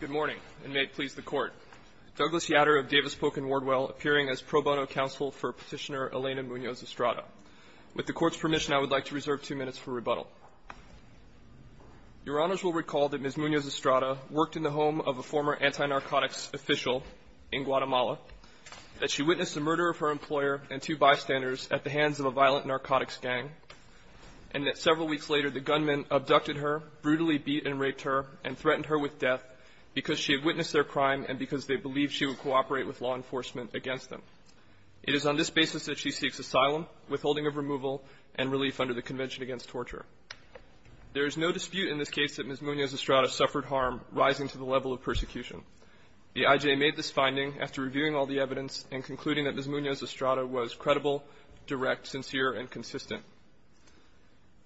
Good morning, and may it please the Court. Douglas Yatter of Davis Polk & Wardwell, appearing as pro bono counsel for Petitioner Elena Munoz-Estrada. With the Court's permission, I would like to reserve two minutes for rebuttal. Your Honors will recall that Ms. Munoz-Estrada worked in the home of a former anti-narcotics official in Guatemala, that she witnessed the murder of her employer and two bystanders at the hands of a violent narcotics gang, and that several weeks later the gunman abducted her, brutally beat and raped her, and threatened her with death because she had witnessed their crime and because they believed she would cooperate with law enforcement against them. It is on this basis that she seeks asylum, withholding of removal, and relief under the Convention Against Torture. There is no dispute in this case that Ms. Munoz-Estrada suffered harm rising to the level of persecution. The I.J. made this finding after reviewing all the evidence and concluding that Ms. Munoz-Estrada was credible, direct, sincere, and consistent.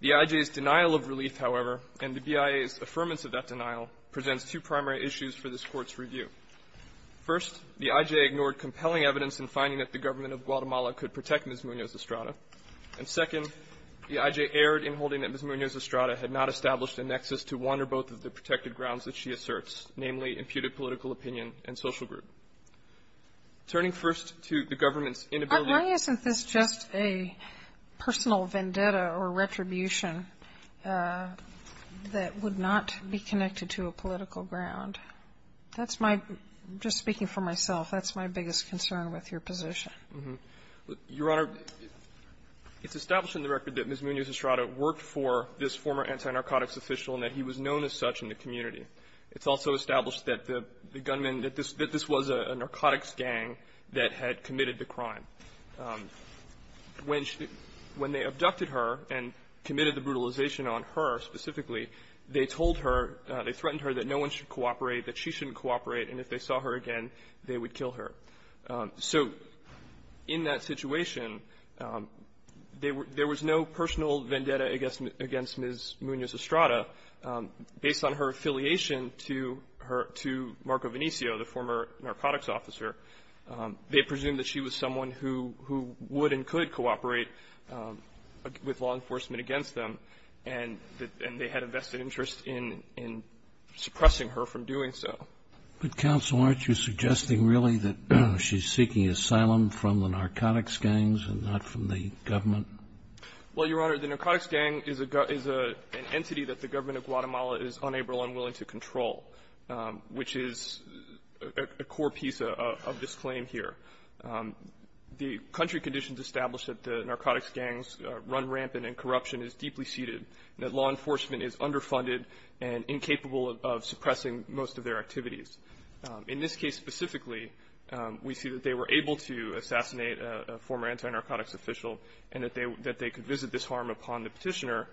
The I.J.'s denial of relief, however, and the BIA's affirmance of that denial, presents two primary issues for this Court's review. First, the I.J. ignored compelling evidence in finding that the government of Guatemala could protect Ms. Munoz-Estrada. And second, the I.J. erred in holding that Ms. Munoz-Estrada had not established a nexus to wander both of the protected grounds that she asserts, namely imputed political opinion and social group. Turning first to the government's inability to protect Ms. Munoz-Estrada. Sotomayor, why isn't this just a personal vendetta or retribution that would not be connected to a political ground? That's my — just speaking for myself, that's my biggest concern with your position. Your Honor, it's established in the record that Ms. Munoz-Estrada worked for this former anti-narcotics official and that he was known as such in the community. It's also established that the gunman, that this was a narcotics gang that had committed the crime. When they abducted her and committed the brutalization on her specifically, they told her, they threatened her that no one should cooperate, that she shouldn't cooperate, and if they saw her again, they would kill her. So in that situation, there was no personal vendetta against Ms. Munoz-Estrada based on her affiliation to Marco Venezio, the former narcotics officer. They presumed that she was someone who would and could cooperate with law enforcement against them, and they had a vested interest in suppressing her from doing so. But, counsel, aren't you suggesting really that she's seeking asylum from the narcotics gangs and not from the government? Well, Your Honor, the narcotics gang is an entity that the government of Guatemala is unable and unwilling to control, which is a core piece of this claim here. The country conditions establish that the narcotics gangs run rampant and corruption is deeply seeded, that law enforcement is underfunded and incapable of suppressing most of their activities. In this case specifically, we see that they were able to assassinate a former anti-narcotics official, and that they could visit this harm upon the Petitioner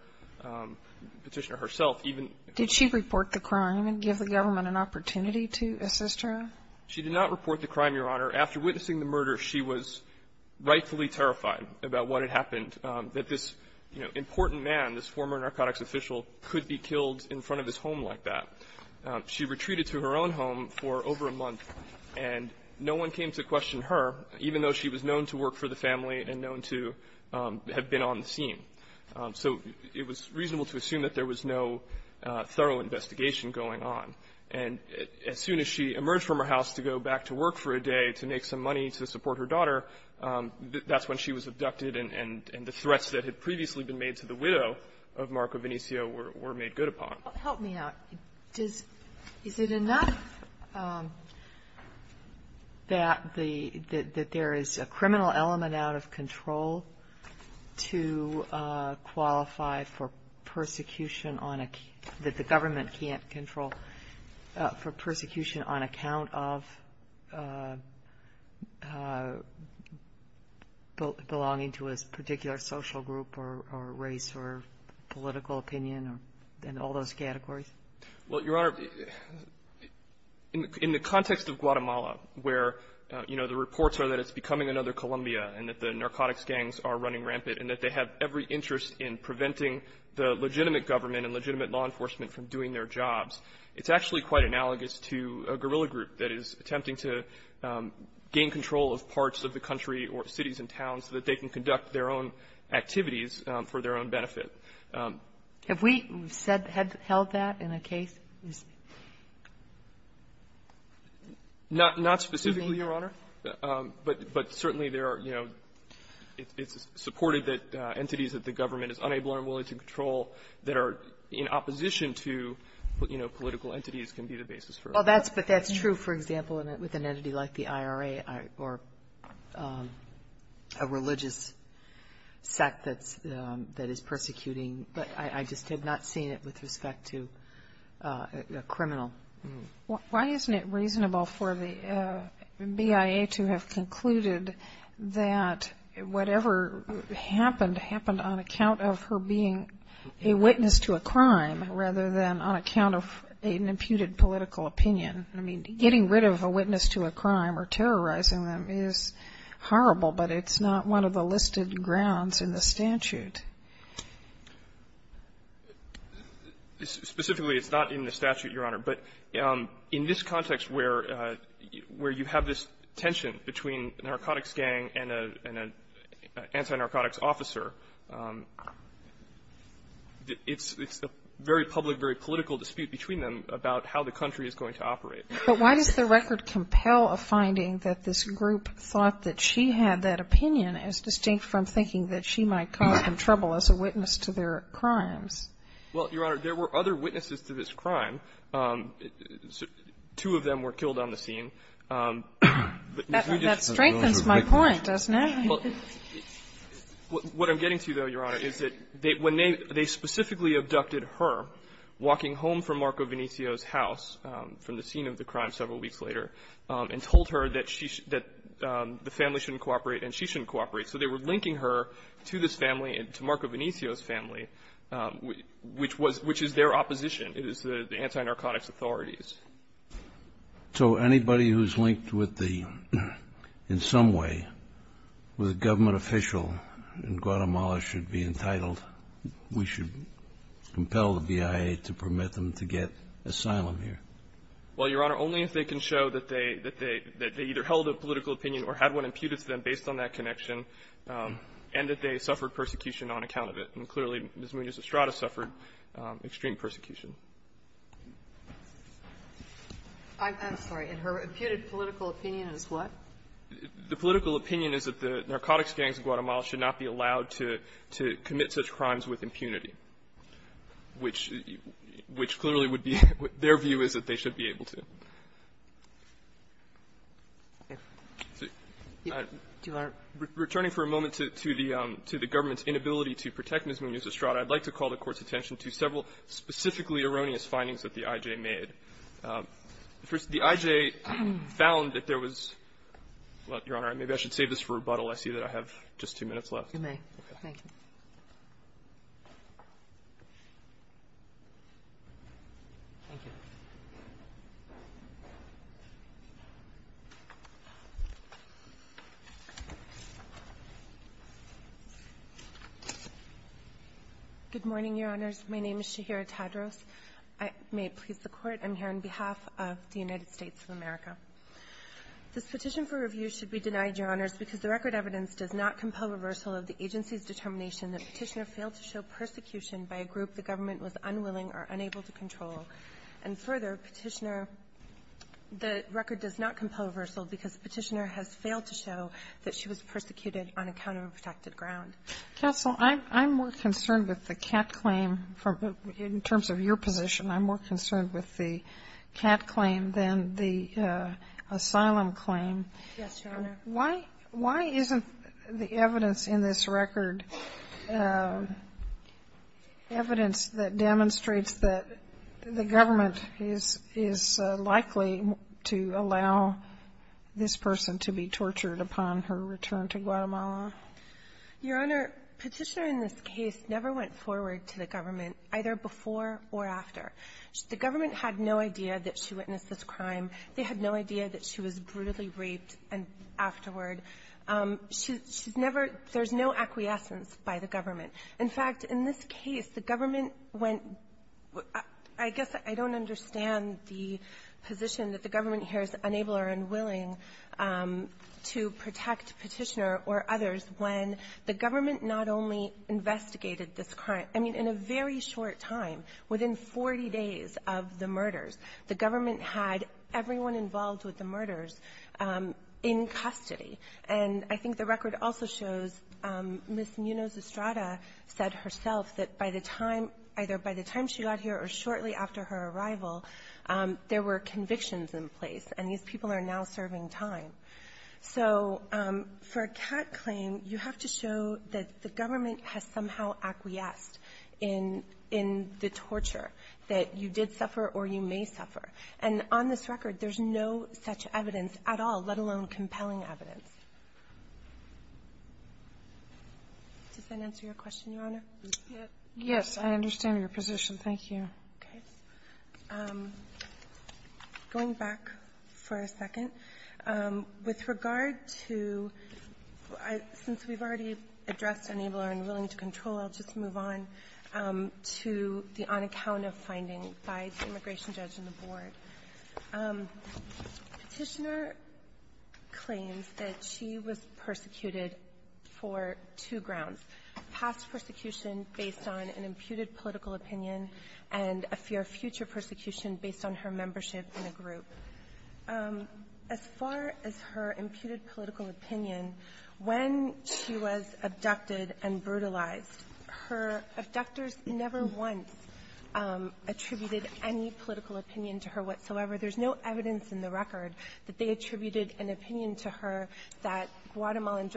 herself, even the government. Did she report the crime and give the government an opportunity to assist her? She did not report the crime, Your Honor. After witnessing the murder, she was rightfully terrified about what had happened, that this, you know, important man, this former narcotics official, could be killed in front of his home like that. She retreated to her own home for over a month, and no one came to question her, even though she was known to work for the family and known to have been on the scene. So it was reasonable to assume that there was no thorough investigation going on. And as soon as she emerged from her house to go back to work for a day to make some money to support her daughter, that's when she was abducted, and the threats that had previously been made to the widow of Marco Vinicio were made good upon. Help me out. Is it enough that there is a criminal element out of control to qualify for persecution on a – that the government can't control for persecution on account of belonging to a Well, Your Honor, in the context of Guatemala, where, you know, the reports are that it's becoming another Colombia and that the narcotics gangs are running rampant and that they have every interest in preventing the legitimate government and legitimate law enforcement from doing their jobs, it's actually quite analogous to a guerrilla group that is attempting to gain control of parts of the country or cities and towns so that they can conduct their own activities for their own benefit. Have we held that in a case? Not specifically, Your Honor. But certainly there are, you know, it's supported that entities that the government is unable or unwilling to control that are in opposition to, you know, political entities can be the basis for it. Well, that's true, for example, with an entity like the IRA or a religious sect that is persecuting. But I just have not seen it with respect to a criminal. Why isn't it reasonable for the BIA to have concluded that whatever happened, happened on account of her being a witness to a crime rather than on account of an imputed political opinion? I mean, getting rid of a witness to a crime or terrorizing them is horrible, but it's not one of the listed grounds in the statute. Specifically, it's not in the statute, Your Honor. But in this context where you have this tension between a narcotics gang and an anti-narcotics officer, it's a very public, very political dispute between them about how the country is going to operate. But why does the record compel a finding that this group thought that she had that opinion as distinct from thinking that she might cause them trouble as a witness to their crimes? Well, Your Honor, there were other witnesses to this crime. Two of them were killed on the scene. That strengthens my point, doesn't it? What I'm getting to, though, Your Honor, is that when they specifically abducted her, walking home from Marco Venezio's house from the scene of the crime several weeks later, and told her that the family shouldn't cooperate and she shouldn't cooperate, so they were linking her to this family, to Marco Venezio's family, which is their opposition. It is the anti-narcotics authorities. So anybody who's linked with the, in some way, with a government official in Guatemala, why would it compel the BIA to permit them to get asylum here? Well, Your Honor, only if they can show that they either held a political opinion or had one imputed to them based on that connection and that they suffered persecution on account of it. And clearly, Ms. Munoz-Estrada suffered extreme persecution. I'm sorry. Her imputed political opinion is what? to commit such crimes with impunity, which clearly would be their view is that they should be able to. Returning for a moment to the government's inability to protect Ms. Munoz-Estrada, I'd like to call the Court's attention to several specifically erroneous findings that the IJ made. First, the IJ found that there was — well, Your Honor, maybe I should save this for rebuttal. I see that I have just two minutes left. You may. Thank you. Good morning, Your Honors. My name is Shahira Tadros. I may please the Court. I'm here on behalf of the United States of America. This petition for review should be denied, Your Honors, because the record evidence does not compel reversal of the agency's determination that Petitioner failed to show persecution by a group the government was unwilling or unable to control. And further, Petitioner — the record does not compel reversal because Petitioner has failed to show that she was persecuted on a counterprotected ground. Counsel, I'm — I'm more concerned with the Catt claim from — in terms of your position, I'm more concerned with the Catt claim than the asylum claim. Yes, Your Honor. Why — why isn't the evidence in this record evidence that demonstrates that the government is — is likely to allow this person to be tortured upon her return to Guatemala? Your Honor, Petitioner in this case never went forward to the government, either before or after. The government had no idea that she witnessed this crime. They had no idea that she was brutally raped afterward. She's never — there's no acquiescence by the government. In fact, in this case, the government went — I guess I don't understand the position that the government here is unable or unwilling to protect Petitioner or others when the government not only investigated this crime — I mean, in a very short time, within 40 days of the murders, the government had everyone involved with the murders in custody. And I think the record also shows Ms. Munoz-Estrada said herself that by the time — either by the time she got here or shortly after her arrival, there were convictions in place, and these people are now serving time. So for a Catt claim, you have to show that the government has somehow acquiesced in — in the torture, that you did suffer or you may suffer. And on this record, there's no such evidence at all, let alone compelling evidence. Does that answer your question, Your Honor? Yes. Yes, I understand your position. Thank you. Okay. Going back for a second, with regard to — since we've already addressed unable or unwilling to control, I'll just move on to the on-account-of finding by the immigration judge and the board. Petitioner claims that she was persecuted for two grounds, past persecution based on an imputed political opinion and a future persecution based on her membership in a group. As far as her imputed political opinion, when she was abducted and brutalized, her abductors never once attributed any political opinion to her whatsoever. There's no evidence in the record that they attributed an opinion to her that Guatemalan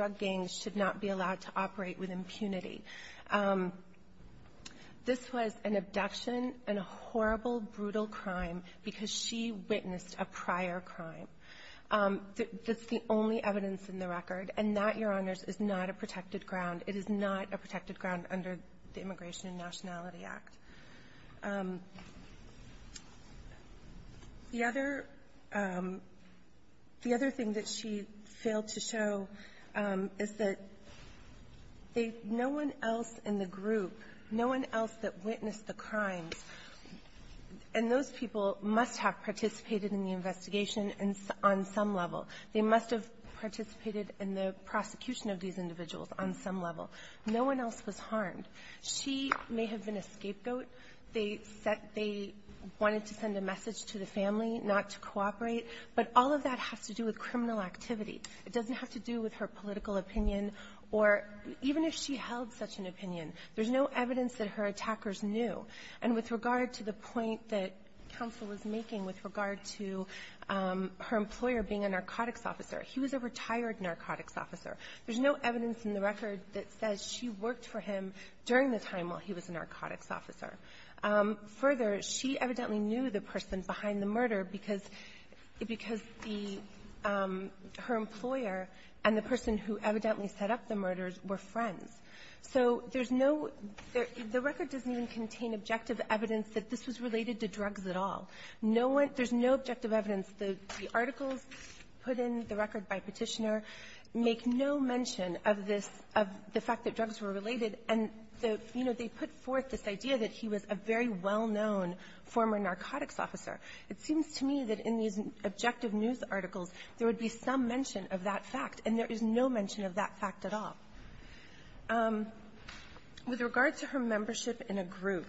because she witnessed a prior crime. That's the only evidence in the record. And that, Your Honors, is not a protected ground. It is not a protected ground under the Immigration and Nationality Act. The other — the other thing that she failed to show is that no one else in the group, no one else that witnessed the crimes — and those people must have participated in the investigation on some level. They must have participated in the prosecution of these individuals on some level. No one else was harmed. She may have been a scapegoat. They set — they wanted to send a message to the family not to cooperate, but all of that has to do with criminal activity. It doesn't have to do with her political opinion or even if she held such an opinion. There's no evidence that her attackers knew. And with regard to the point that counsel is making with regard to her employer being a narcotics officer, he was a retired narcotics officer. There's no evidence in the record that says she worked for him during the time while he was a narcotics officer. Further, she evidently knew the person behind the murder because — because the — her employer and the person who evidently set up the murders were friends. So there's no — the record doesn't even contain objective evidence that this was related to drugs at all. No one — there's no objective evidence. The articles put in the record by Petitioner make no mention of this — of the fact that drugs were related, and the — you know, they put forth this idea that he was a very well-known former narcotics officer. It seems to me that in these objective news articles, there would be some mention of that fact, and there is no mention of that fact at all. With regard to her membership in a group,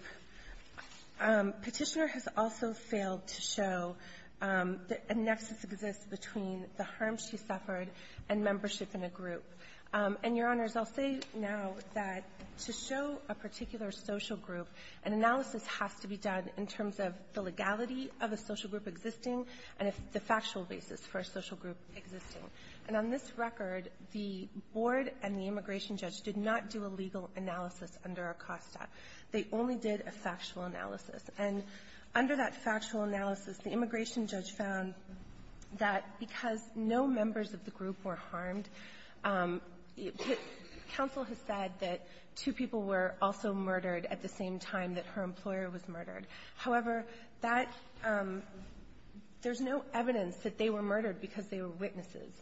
Petitioner has also failed to show that a nexus exists between the harm she suffered and membership in a group. And, Your Honors, I'll say now that to show a particular social group, an analysis has to be done in terms of the legality of a social group existing and the factual basis for a social group existing. And on this record, the board and the immigration judge did not do a legal analysis under Acosta. They only did a factual analysis. And under that factual analysis, the immigration judge found that because no members of the group were harmed, counsel has said that two people were also murdered at the same time that her employer was murdered. However, that — there's no evidence that they were murdered because they were witnesses.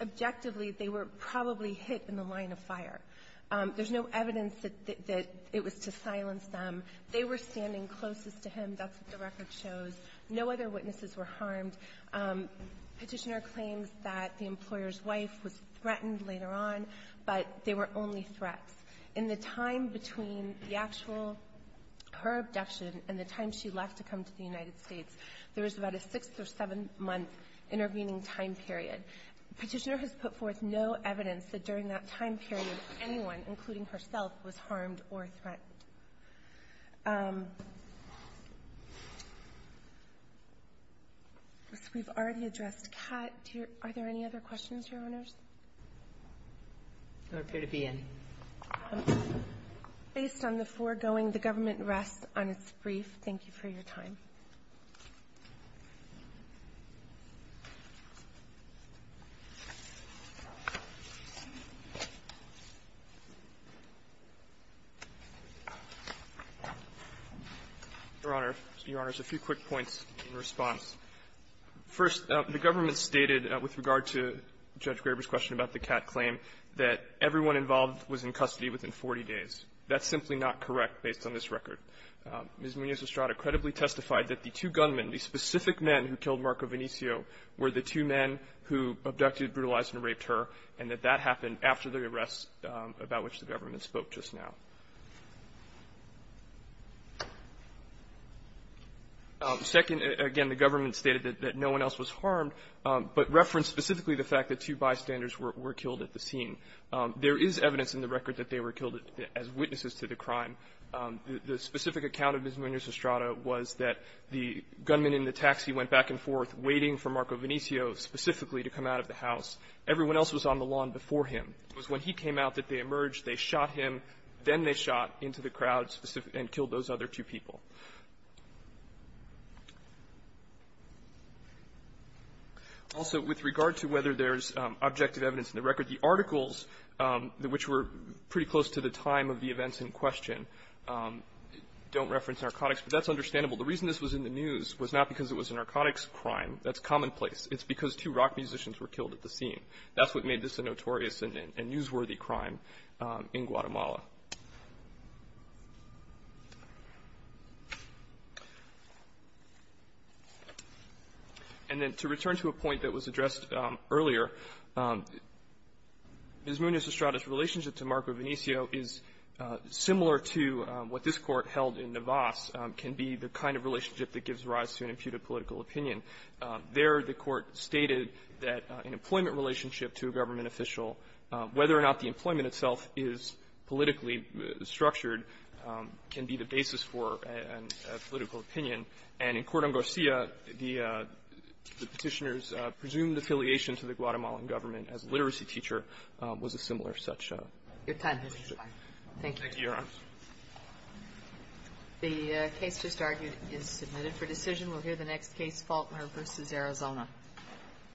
Objectively, they were probably hit in the line of fire. There's no evidence that it was to silence them. They were standing closest to him. That's what the record shows. No other witnesses were harmed. Petitioner claims that the employer's wife was threatened later on, but they were only threats. In the time between the actual — her abduction and the time she left to come to the United States, there was about a six- or seven-month intervening time period. Petitioner has put forth no evidence that during that time period anyone, including herself, was harmed or threatened. We've already addressed Cat. Are there any other questions, Your Honors? I don't appear to be in. Based on the foregoing, the government rests on its brief. Thank you for your time. Your Honor, a few quick points in response. First, the government stated with regard to Judge Graber's question about the Cat claim that everyone involved was in custody within 40 days. That's simply not correct based on this record. Ms. Munoz-Estrada credibly testified that the two gunmen, the specific men who killed Marco Vinicio, were the two men who abducted, brutalized, and raped her, and that that happened after the arrest about which the government spoke just now. Second, again, the government stated that no one else was harmed, but referenced specifically the fact that two bystanders were killed at the scene. There is evidence in the record that they were killed as witnesses to the crime. The specific account of Ms. Munoz-Estrada was that the gunmen in the taxi went back and forth waiting for Marco Vinicio specifically to come out of the house. Everyone else was on the lawn before him. It was when he came out that they emerged. They shot him. Then they shot into the crowd and killed those other two people. Also with regard to whether there's objective evidence in the record, the articles, which were pretty close to the time of the events in question, don't reference narcotics. But that's understandable. The reason this was in the news was not because it was a narcotics crime. That's commonplace. It's because two rock musicians were killed at the scene. That's why it made this a notorious and newsworthy crime in Guatemala. And then to return to a point that was addressed earlier, Ms. Munoz-Estrada's relationship to Marco Vinicio is similar to what this Court held in Navas can be the kind of relationship that gives rise to an imputed political opinion. There, the Court stated that an employment relationship to a government official, whether or not the employment itself is politically structured, can be the basis for a political opinion. And in Corte Angostura, the Petitioner's presumed affiliation to the Guatemalan government as a literacy teacher was a similar such relationship. Thank you. Thank you, Your Honor. The case just argued is submitted for decision. We'll hear the next case, Faulkner v. Arizona. Thank you.